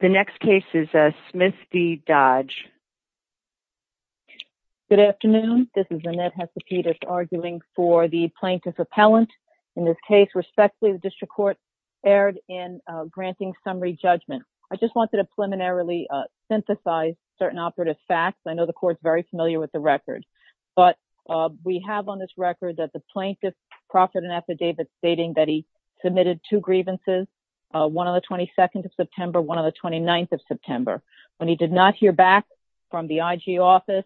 The next case is Smith v. Dodge. Good afternoon. This is Annette Hesapetus arguing for the Plaintiff's Appellant. In this case, respectfully, the District Court erred in granting summary judgment. I just wanted to preliminarily synthesize certain operative facts. I know the Court's very familiar with the record, but we have on this record that the Plaintiff profited an affidavit stating that he submitted two grievances, one on the 22nd of September, one on the 29th of September. When he did not hear back from the IG office,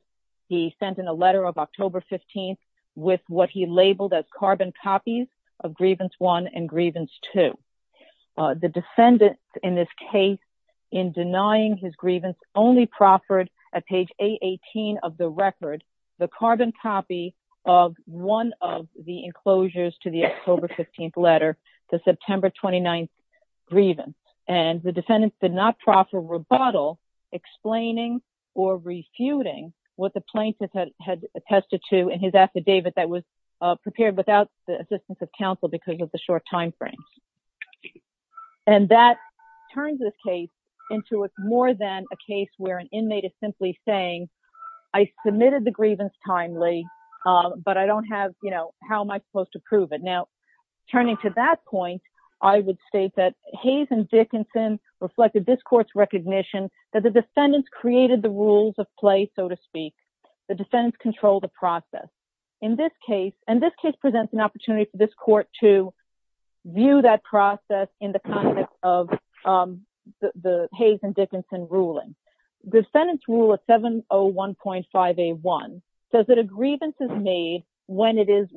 he sent in a letter of October 15th with what he labeled as carbon copies of grievance one and grievance two. The defendant in this case, in denying his grievance, only proffered at page 818 of the record the carbon copy of one of the enclosures to the October 15th letter, the September 29th did not proffer rebuttal explaining or refuting what the Plaintiff had attested to in his affidavit that was prepared without the assistance of counsel because of the short time frames. And that turns this case into it's more than a case where an inmate is simply saying, I submitted the grievance timely, but I don't have, you know, how am I supposed to prove it? Now, turning to that point, I would state that Hayes and Dickinson reflected this court's recognition that the defendants created the rules of play, so to speak. The defendants control the process. In this case, and this case presents an opportunity for this court to view that process in the context of the Hayes and Dickinson ruling. The defendant's rule of 701.5A1 says that a grievance is made when it is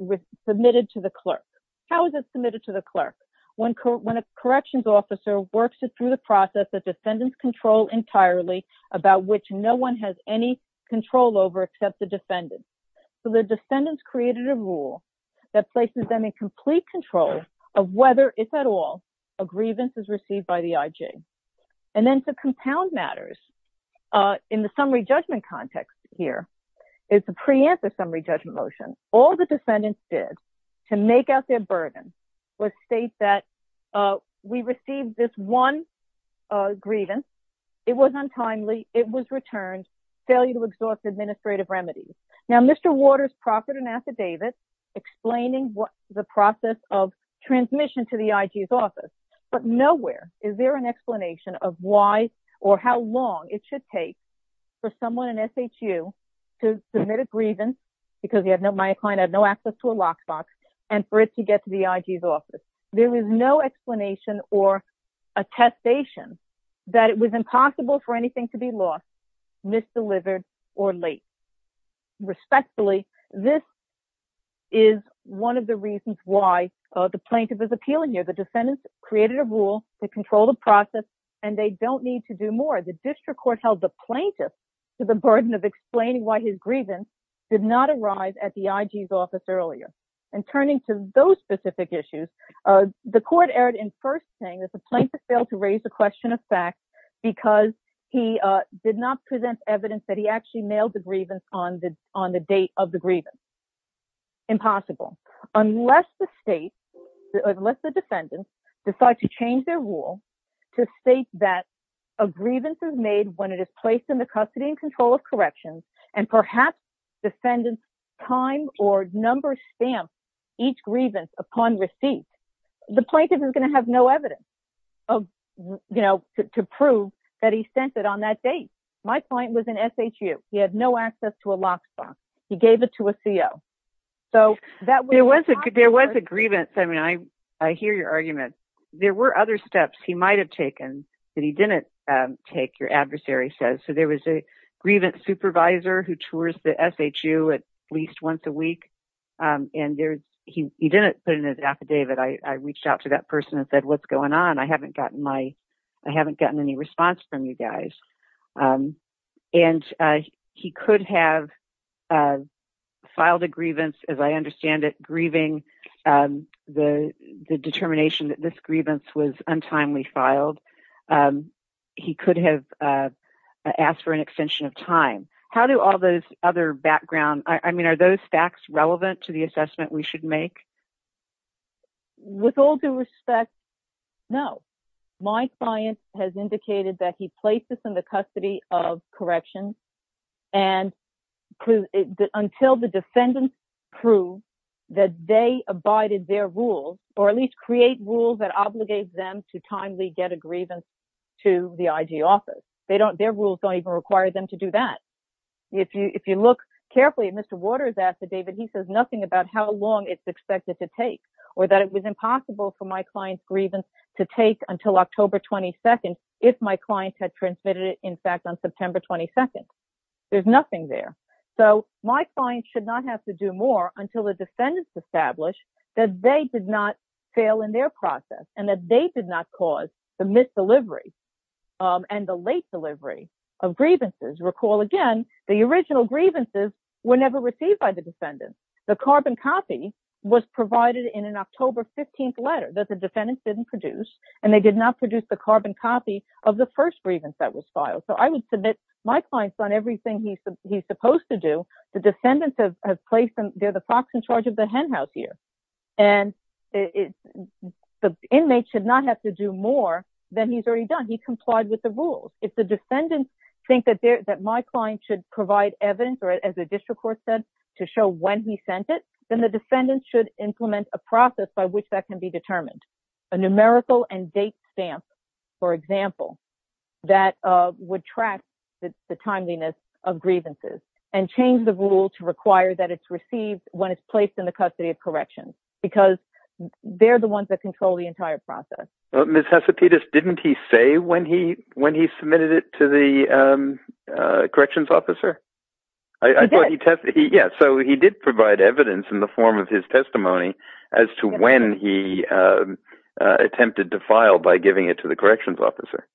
submitted to the clerk. How is it submitted to the clerk? When a corrections officer works it through the process, the defendants control entirely about which no one has any control over except the defendants. So the defendants created a rule that places them in complete control of whether, if at all, a grievance is received by the IG. And then to all the defendants did to make out their burden was state that we received this one grievance, it was untimely, it was returned, failure to exhaust administrative remedies. Now, Mr. Waters proffered an affidavit explaining what the process of transmission to the IG's office, but nowhere is there an explanation of why or how long it should take for someone in SHU to submit a grievance because he had no access to a lockbox and for it to get to the IG's office. There is no explanation or attestation that it was impossible for anything to be lost, misdelivered or late. Respectfully, this is one of the reasons why the plaintiff is appealing here. The defendants created a rule to control the process and they don't need to do more. The grievance did not arrive at the IG's office earlier. And turning to those specific issues, the court erred in first saying that the plaintiff failed to raise the question of facts because he did not present evidence that he actually mailed the grievance on the date of the grievance. Impossible. Unless the state, unless the defendants decide to change their rule to state that a grievance is made when it is placed in the custody and control of corrections and perhaps defendants time or number stamp each grievance upon receipt, the plaintiff is going to have no evidence to prove that he sent it on that date. My client was in SHU. He had no access to a lockbox. He gave it to a CO. There was a grievance. I mean, I hear your argument. There were other steps he might have taken that he didn't take, your adversary says. So there was a grievance supervisor who tours the SHU at least once a week. And he didn't put in his affidavit. I reached out to that person and said, what's going on? I haven't gotten any response from you guys. And he could have filed a grievance, as I understand it, grieving the determination that this grievance was untimely filed. He could have asked for an extension of time. How do all those other background, I mean, are those facts relevant to the assessment we should make? With all due respect, no. My client has indicated that he placed this in the custody of corrections and until the defendants prove that they abided their rules, or at least create rules that obligate them to timely get a grievance to the IG office. Their rules don't even require them to do that. If you look carefully at Mr. Waters affidavit, he says nothing about how long it's expected to take or that it was impossible for my client's grievance to take until October 22nd, if my client had transmitted it, in fact, on September 22nd. There's nothing there. So, my client should not have to do more until the defendants establish that they did not fail in their process and that they did not cause the misdelivery and the late delivery of grievances. Recall again, the original grievances were never received by the defendants. The carbon copy was provided in an October 15th letter that the defendants didn't produce, and they did not produce the carbon copy of the first grievance that was filed. So, I would submit my client's done everything he's supposed to do. The defendants have placed them, they're the fox in charge of the henhouse here, and the inmate should not have to do more than he's already done. He complied with the rules. If the defendants think that my client should provide evidence, or as the district court said, to show when he sent it, then the defendants should implement a process by which that can be determined. A numerical and date stamp, for example, that would track the timeliness of grievances and change the rule to require that it's received when it's placed in the custody of corrections, because they're the ones that control the entire process. Well, Ms. Hesopidas, didn't he say when he submitted it to the testimony as to when he attempted to file by giving it to the corrections officer?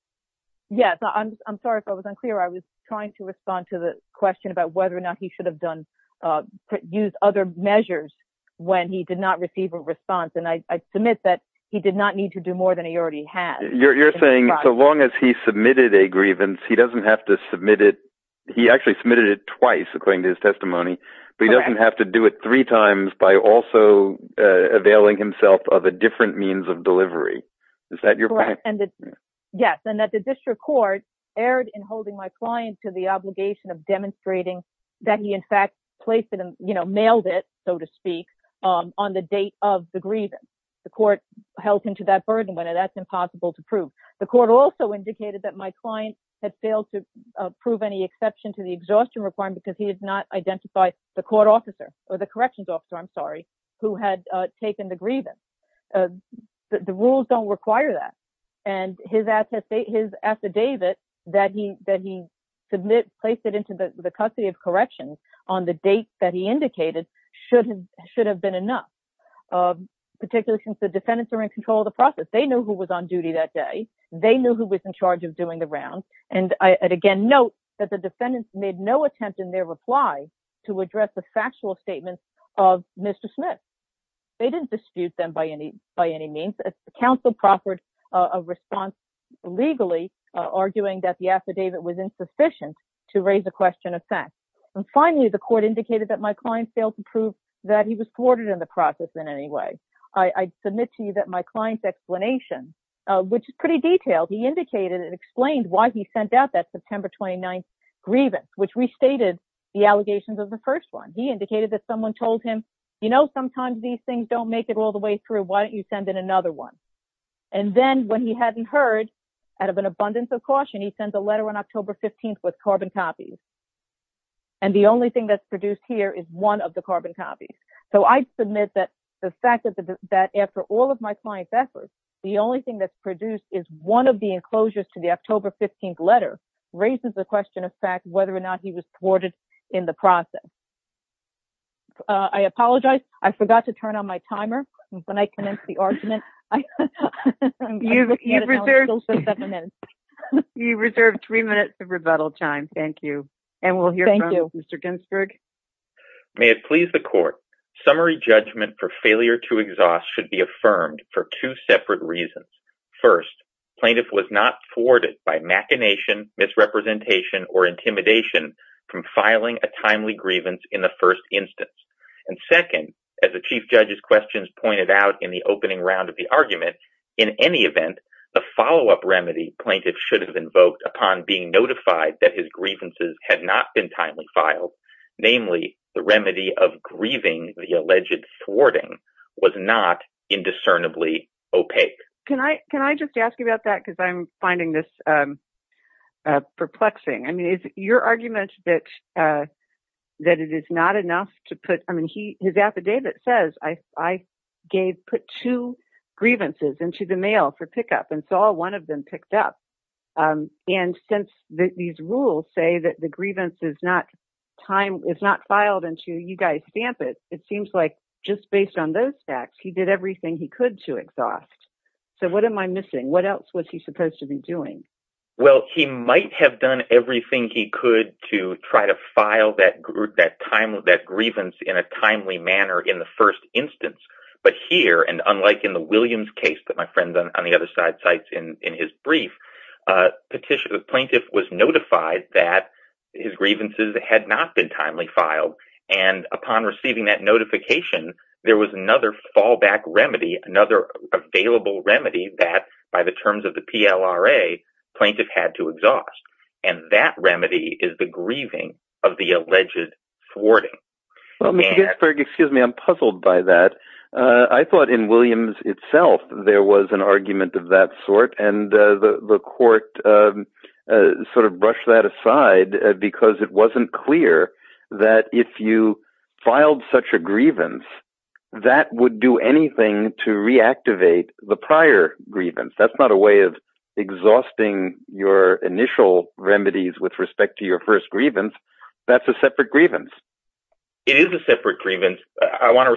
Yes. I'm sorry if I was unclear. I was trying to respond to the question about whether or not he should have used other measures when he did not receive a response, and I submit that he did not need to do more than he already had. You're saying so long as he submitted a grievance, he doesn't have to submit it. He actually submitted it twice, according to his testimony, but he doesn't have to do it three times by also availing himself of a different means of delivery. Is that your point? Yes, and that the district court erred in holding my client to the obligation of demonstrating that he in fact placed it and mailed it, so to speak, on the date of the grievance. The court held him to that burden, but that's impossible to prove. The court also indicated that my client had failed to prove any exception to the exhaustion requirement because he did not identify the corrections officer who had taken the grievance. The rules don't require that, and his affidavit that he placed it into the custody of corrections on the date that he indicated should have been enough, particularly since the defendants are in control of the process. They knew who was on duty that day. They knew who was in charge of doing the rounds, and I again note that the defendants made no attempt in their reply to address the factual statements of Mr. Smith. They didn't dispute them by any means. The counsel proffered a response legally, arguing that the affidavit was insufficient to raise the question of fact. Finally, the court indicated that my client failed to prove that he was thwarted in the process in any way. I submit to you that my client's explanation, which is pretty detailed, indicated and explained why he sent out that September 29th grievance, which restated the allegations of the first one. He indicated that someone told him, you know, sometimes these things don't make it all the way through. Why don't you send in another one? And then when he hadn't heard, out of an abundance of caution, he sends a letter on October 15th with carbon copies, and the only thing that's produced here is one of the carbon copies. So I submit that the fact that after all of my client's efforts, the only thing that's produced is one of the enclosures to the October 15th letter raises the question of fact, whether or not he was thwarted in the process. I apologize. I forgot to turn on my timer when I commenced the argument. You reserved three minutes of rebuttal time. Thank you. And we'll hear from Mr. Ginsburg. May it please the court. Summary judgment for failure to exhaust should be affirmed for two separate reasons. First, plaintiff was not thwarted by machination, misrepresentation, or intimidation from filing a timely grievance in the first instance. And second, as the chief judge's questions pointed out in the opening round of the argument, in any event, the follow-up remedy plaintiff should have invoked upon being notified that his grievances had not been timely filed. Namely, the remedy of grieving the alleged thwarting was not indiscernibly opaque. Can I just ask you about that? Because I'm finding this perplexing. I mean, is your argument that it is not enough to put, I mean, his affidavit says I gave, put two grievances into the mail for pickup and saw one of them picked up. And since these rules say that the time is not filed until you guys stamp it, it seems like just based on those facts, he did everything he could to exhaust. So what am I missing? What else was he supposed to be doing? Well, he might have done everything he could to try to file that group, that time, that grievance in a timely manner in the first instance. But here, and unlike in the Williams case that my friend on the other side cites in his brief petition, the plaintiff was notified that his grievances had not been timely filed. And upon receiving that notification, there was another fallback remedy, another available remedy that by the terms of the PLRA, plaintiff had to exhaust. And that remedy is the grieving of the alleged thwarting. Well, Mr. Ginsburg, excuse me, I'm puzzled by that. I thought in Williams itself, there was an argument of that sort. And the court sort of brushed that aside because it wasn't clear that if you filed such a grievance, that would do anything to reactivate the prior grievance. That's not a way of exhausting your initial remedies with respect to your first grievance. That's a separate grievance. It is a separate grievance. I want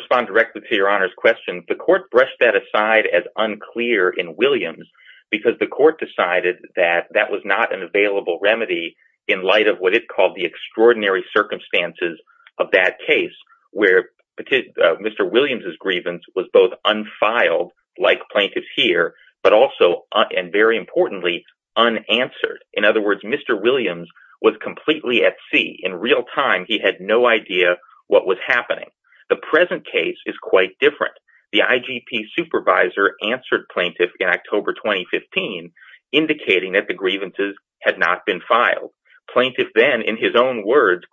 to in Williams because the court decided that that was not an available remedy in light of what it called the extraordinary circumstances of that case where Mr. Williams' grievance was both unfiled, like plaintiff's here, but also, and very importantly, unanswered. In other words, Mr. Williams was completely at sea. In real time, he had no idea what was happening. The present case is quite different. The IGP supervisor answered plaintiff in October 2015, indicating that the grievances had not been filed. Plaintiff then in his own words,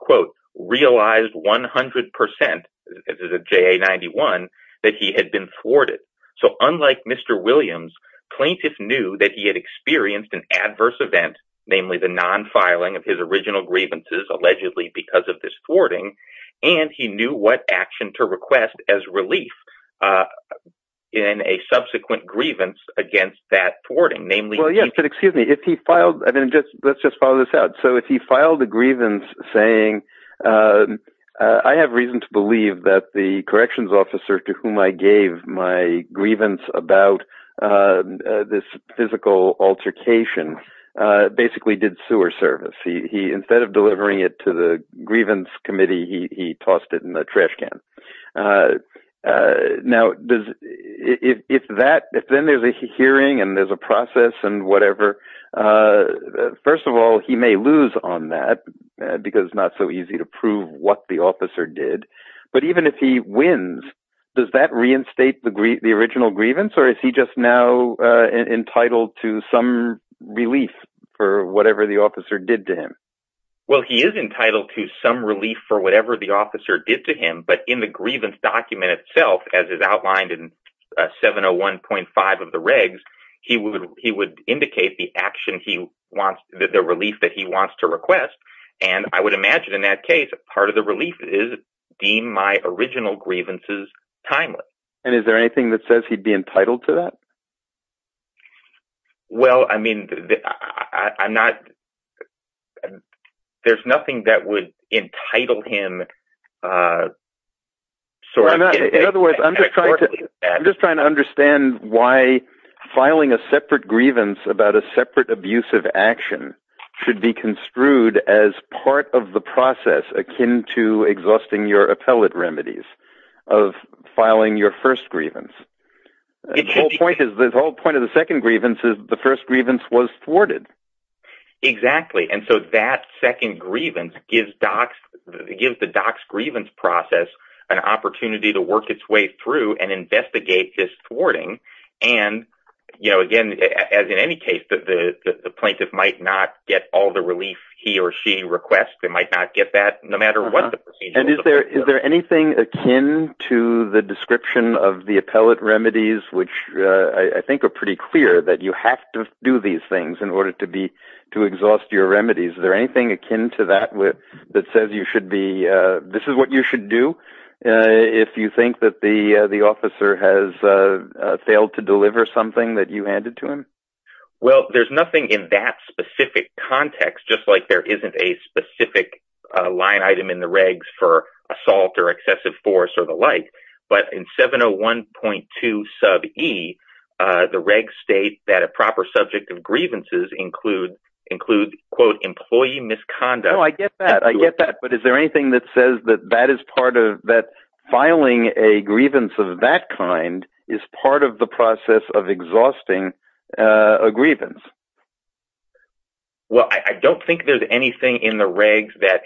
realized 100% that he had been thwarted. So unlike Mr. Williams, plaintiff knew that he had experienced an adverse event, namely the non-filing of his original grievances, allegedly because of this thwarting, and he knew what action to request as relief in a subsequent grievance against that thwarting. Well, yes, but excuse me, if he filed, let's just follow this out. So if he filed a grievance saying, I have reason to believe that the corrections officer to whom I gave my grievance about this physical altercation, basically did sewer service. Instead of delivering it to the grievance committee, he tossed it in the trash can. Now, if then there's a hearing and there's a process and whatever, first of all, he may lose on that because it's not so easy to prove what the Is he just now entitled to some relief for whatever the officer did to him? Well, he is entitled to some relief for whatever the officer did to him, but in the grievance document itself, as is outlined in 701.5 of the regs, he would indicate the action he wants, the relief that he wants to request. And I would imagine in that case, part of the relief is deemed my original grievances timeless. And is there anything that says he'd be entitled to that? Well, I mean, I'm not, there's nothing that would entitle him. I'm just trying to understand why filing a separate grievance about a separate abusive action should be construed as part of the process akin to exhausting your appellate remedies of filing your first grievance. The whole point of the second grievance is the first grievance was thwarted. Exactly. And so that second grievance gives docs, it gives the docs grievance process an opportunity to work its way through and investigate this thwarting. And, you know, again, as in any case, the plaintiff might not get all the relief he or no matter what. And is there, is there anything akin to the description of the appellate remedies, which I think are pretty clear that you have to do these things in order to be, to exhaust your remedies. Is there anything akin to that, that says you should be, this is what you should do if you think that the officer has failed to deliver something that you handed to him? Well, there's nothing in that specific context, just like there isn't a specific line item in the regs for assault or excessive force or the like, but in 701.2 sub e, the reg state that a proper subject of grievances include, include quote, employee misconduct. No, I get that. I get that. But is there anything that says that that is part of that filing a grievance of that kind is part of the process of exhausting a grievance? Well, I don't think there's anything in the regs that,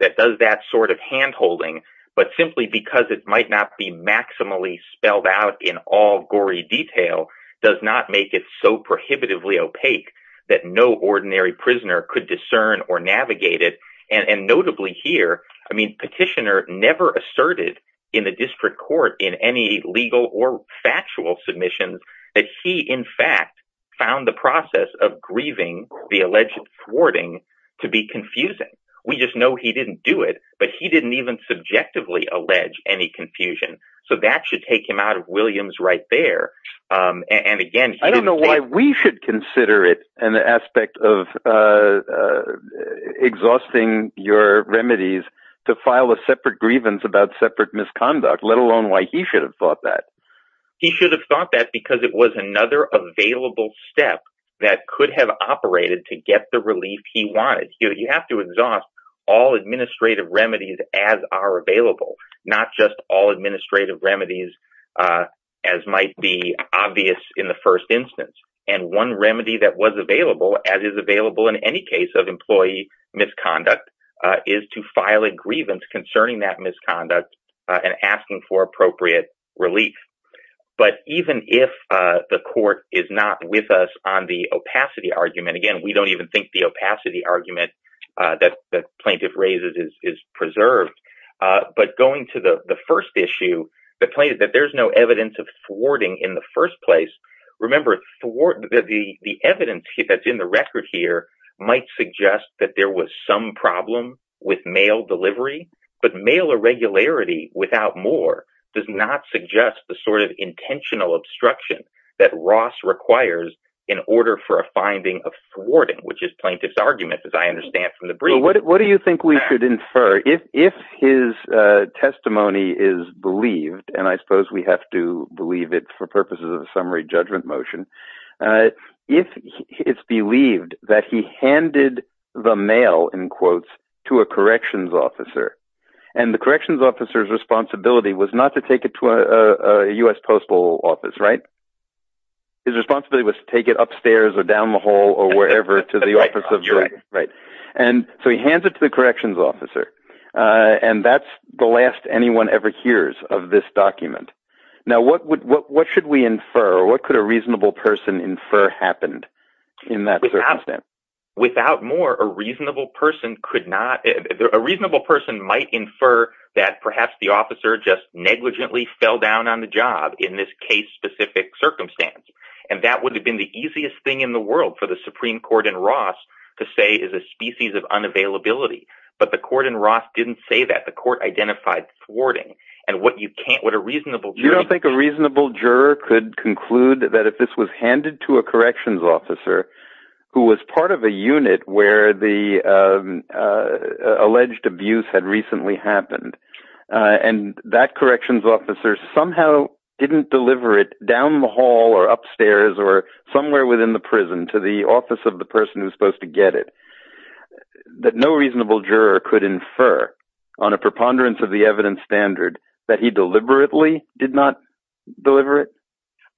that does that sort of handholding, but simply because it might not be maximally spelled out in all gory detail does not make it so prohibitively opaque that no ordinary prisoner could discern or navigate it. And notably here, I mean, petitioner never asserted in the district court in any legal or factual submissions that he in fact found the process of grieving the alleged thwarting to be confusing. We just know he didn't do it, but he didn't even subjectively allege any confusion. So that should take him out of Williams right there. And again, I don't know why we should consider it an aspect of exhausting your remedies to file a separate grievance about separate misconduct, let alone why he should have thought that. He should have thought that because it was another available step that could have operated to get the relief he wanted. You have to exhaust all administrative remedies as are available, not just all administrative remedies as might be obvious in the first instance. And one remedy that was available as is available in any case of misconduct and asking for appropriate relief. But even if the court is not with us on the opacity argument, again, we don't even think the opacity argument that the plaintiff raises is preserved. But going to the first issue, that there's no evidence of thwarting in the first place. Remember, the evidence that's in the record here might suggest that there was some problem with mail delivery, but mail irregularity without more does not suggest the sort of intentional obstruction that Ross requires in order for a finding of thwarting, which is plaintiff's argument, as I understand from the brief. What do you think we should infer? If his testimony is believed, and I suppose we have to believe it for purposes of a summary judgment motion, if it's believed that he handed the mail, in quotes, to a corrections officer, and the corrections officer's responsibility was not to take it to a U.S. Postal Office, right? His responsibility was to take it upstairs or down the hall or wherever to the office of jury, right? And so he hands it to the corrections officer. And that's the last anyone ever hears of this document. Now, what should we infer? What could a reasonable person infer happened in that circumstance? Without more, a reasonable person might infer that perhaps the officer just negligently fell down on the job in this case-specific circumstance. And that would have been the easiest thing in the world for the Supreme Court and Ross to say is a species of reasonable. You don't think a reasonable juror could conclude that if this was handed to a corrections officer who was part of a unit where the alleged abuse had recently happened, and that corrections officer somehow didn't deliver it down the hall or upstairs or somewhere within the prison to the office of the person who's supposed to get it, that no reasonable juror could infer on a preponderance of the evidence standard that he deliberately did not deliver it?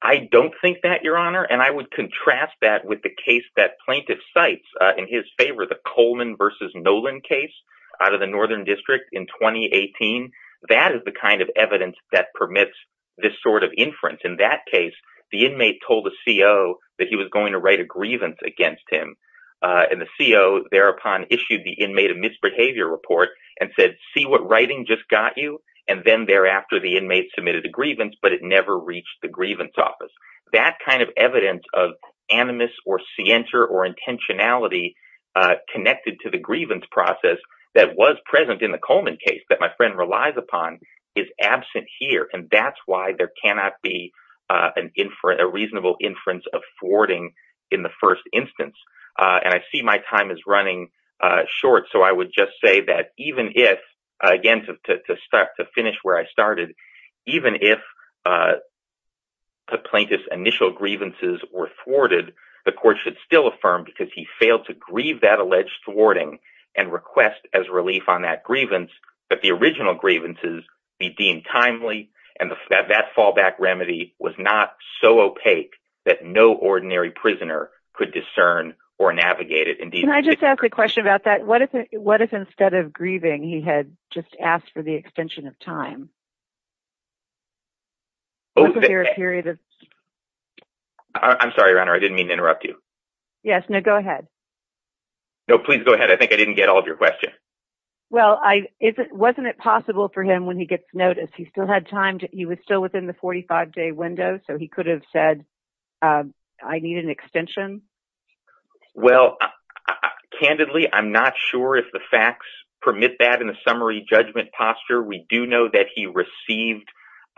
I don't think that, Your Honor. And I would contrast that with the case that plaintiff cites in his favor, the Coleman versus Nolan case out of the Northern District in 2018. That is the kind of evidence that permits this sort of inference. In that case, the inmate told the CO that he was going to write a grievance against him. And the CO thereupon issued the inmate a misbehavior report and said, see what writing just got you. And then thereafter, the inmate submitted a grievance, but it never reached the grievance office. That kind of evidence of animus or scienter or intentionality connected to the grievance process that was present in the Coleman case that my friend relies upon is absent here. And that's why there cannot be a reasonable inference of thwarting in the first instance. And I see my time is running short, so I would just say that even if, again, to finish where I started, even if the plaintiff's initial grievances were thwarted, the court should still affirm because he failed to grieve that alleged thwarting and request as relief on that grievance that the original grievances be deemed timely and that fallback remedy was not so opaque that no ordinary prisoner could discern or navigate it. Can I just ask a question about that? What if instead of grieving, he had just asked for the extension of time? I'm sorry, Your Honor, I didn't mean to interrupt you. Yes, no, go ahead. No, please go ahead. I think I didn't get all of your question. Well, wasn't it possible for him when he gets notice, he still had time, he was still within the 45-day window, so he could have said, I need an extension? Well, candidly, I'm not sure if the facts permit that in a summary judgment posture. We do know that he received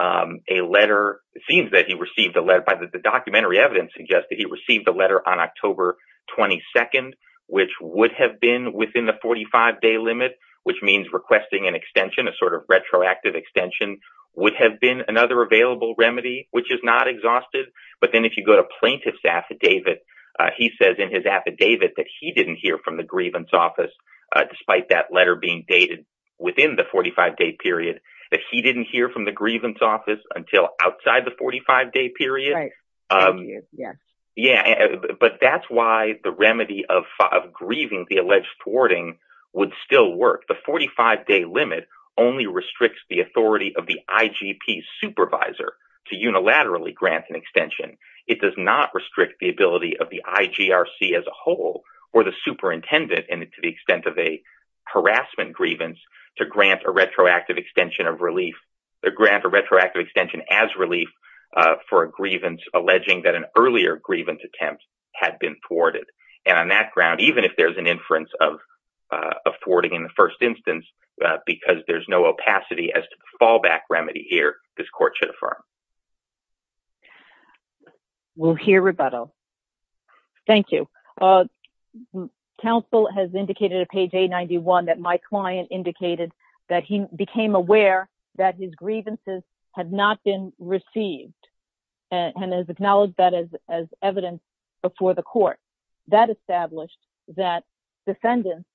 a letter, it seems that he received a letter, the documentary evidence suggests that he received a letter on October 22nd, which would have been within the 45-day limit, which means requesting an extension, a sort of retroactive extension, would have been another available remedy, which is not exhausted. But then if you go to plaintiff's affidavit, he says in his affidavit that he didn't hear from the grievance office, despite that letter being dated within the 45-day period, that he didn't hear from the grievance office until outside the 45-day period. Yeah, but that's why the remedy of grieving, the alleged thwarting, would still work. The 45-day limit only restricts the authority of the IGP supervisor to unilaterally grant an extension. It does not restrict the ability of the IGRC as a whole, or the superintendent, and to the extent of a harassment grievance, to grant a retroactive extension of relief, grant a retroactive extension as relief for a grievance alleging that an earlier grievance attempt had been thwarted. And on that ground, even if there's an inference of in the first instance, because there's no opacity as to the fallback remedy here, this court should affirm. We'll hear rebuttal. Thank you. Counsel has indicated at page 891 that my client indicated that he became aware that his grievances had not been received, and has acknowledged that as evidence before the court. That established that defendants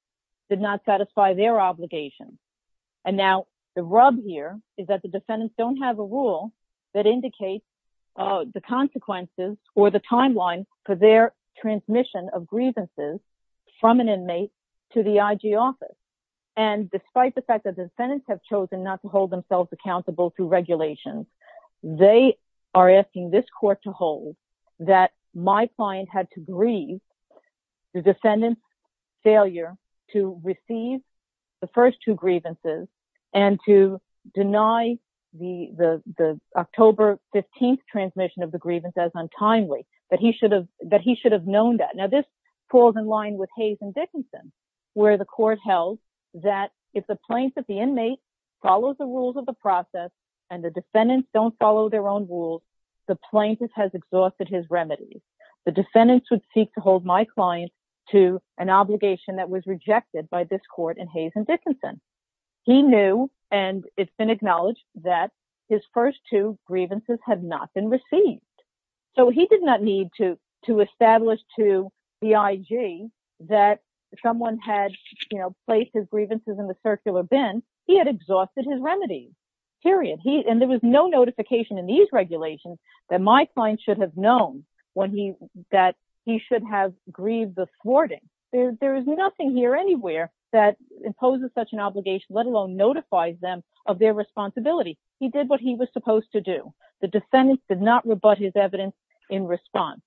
did not satisfy their obligations. And now the rub here is that the defendants don't have a rule that indicates the consequences or the timeline for their transmission of grievances from an inmate to the IG office. And despite the fact that the defendants have chosen not to hold themselves accountable through regulations, they are asking this court to hold that my client had grieved the defendant's failure to receive the first two grievances, and to deny the October 15th transmission of the grievance as untimely, that he should have known that. Now this falls in line with Hayes and Dickinson, where the court held that if the plaintiff, the inmate, follows the rules of the process, and the defendants don't follow their own rules, the plaintiff has exhausted his remedies. The defendants would seek to hold my client to an obligation that was rejected by this court in Hayes and Dickinson. He knew and it's been acknowledged that his first two grievances had not been received. So he did not need to establish to the IG that someone had placed his grievances in the circular bin. He had exhausted his remedies, period. And there was no notification in these regulations that my client should have known that he should have grieved the thwarting. There is nothing here anywhere that imposes such an obligation, let alone notifies them of their responsibility. He did what he was supposed to do. The defendants did not rebut his evidence in response.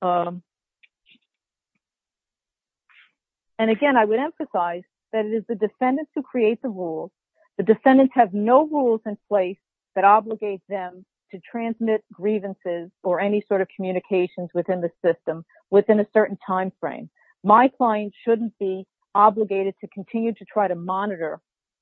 And again, I would emphasize that it is the defendants who create the rules. The defendants have no rules in place that obligate them to transmit grievances or any sort of communications within the system within a certain timeframe. My client shouldn't be obligated to continue to try monitor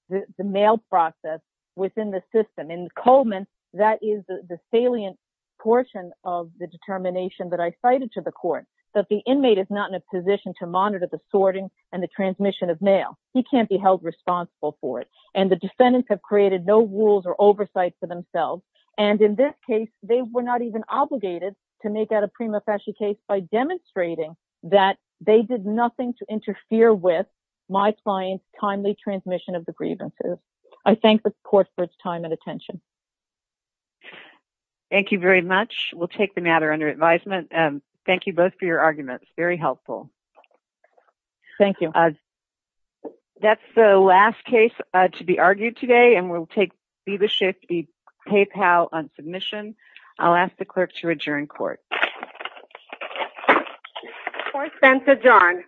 the mail process within the system. In Coleman, that is the salient portion of the determination that I cited to the court, that the inmate is not in a position to monitor the sorting and the transmission of mail. He can't be held responsible for it. And the defendants have created no rules or oversight for themselves. And in this case, they were not even obligated to make that a prima facie case by demonstrating that they did nothing to interfere with my client's transmission of the grievances. I thank the court for its time and attention. Thank you very much. We'll take the matter under advisement. Thank you both for your arguments. Very helpful. Thank you. That's the last case to be argued today. And we'll take Viva Shift v. PayPal on submission. I'll ask the clerk to adjourn court. Court is adjourned.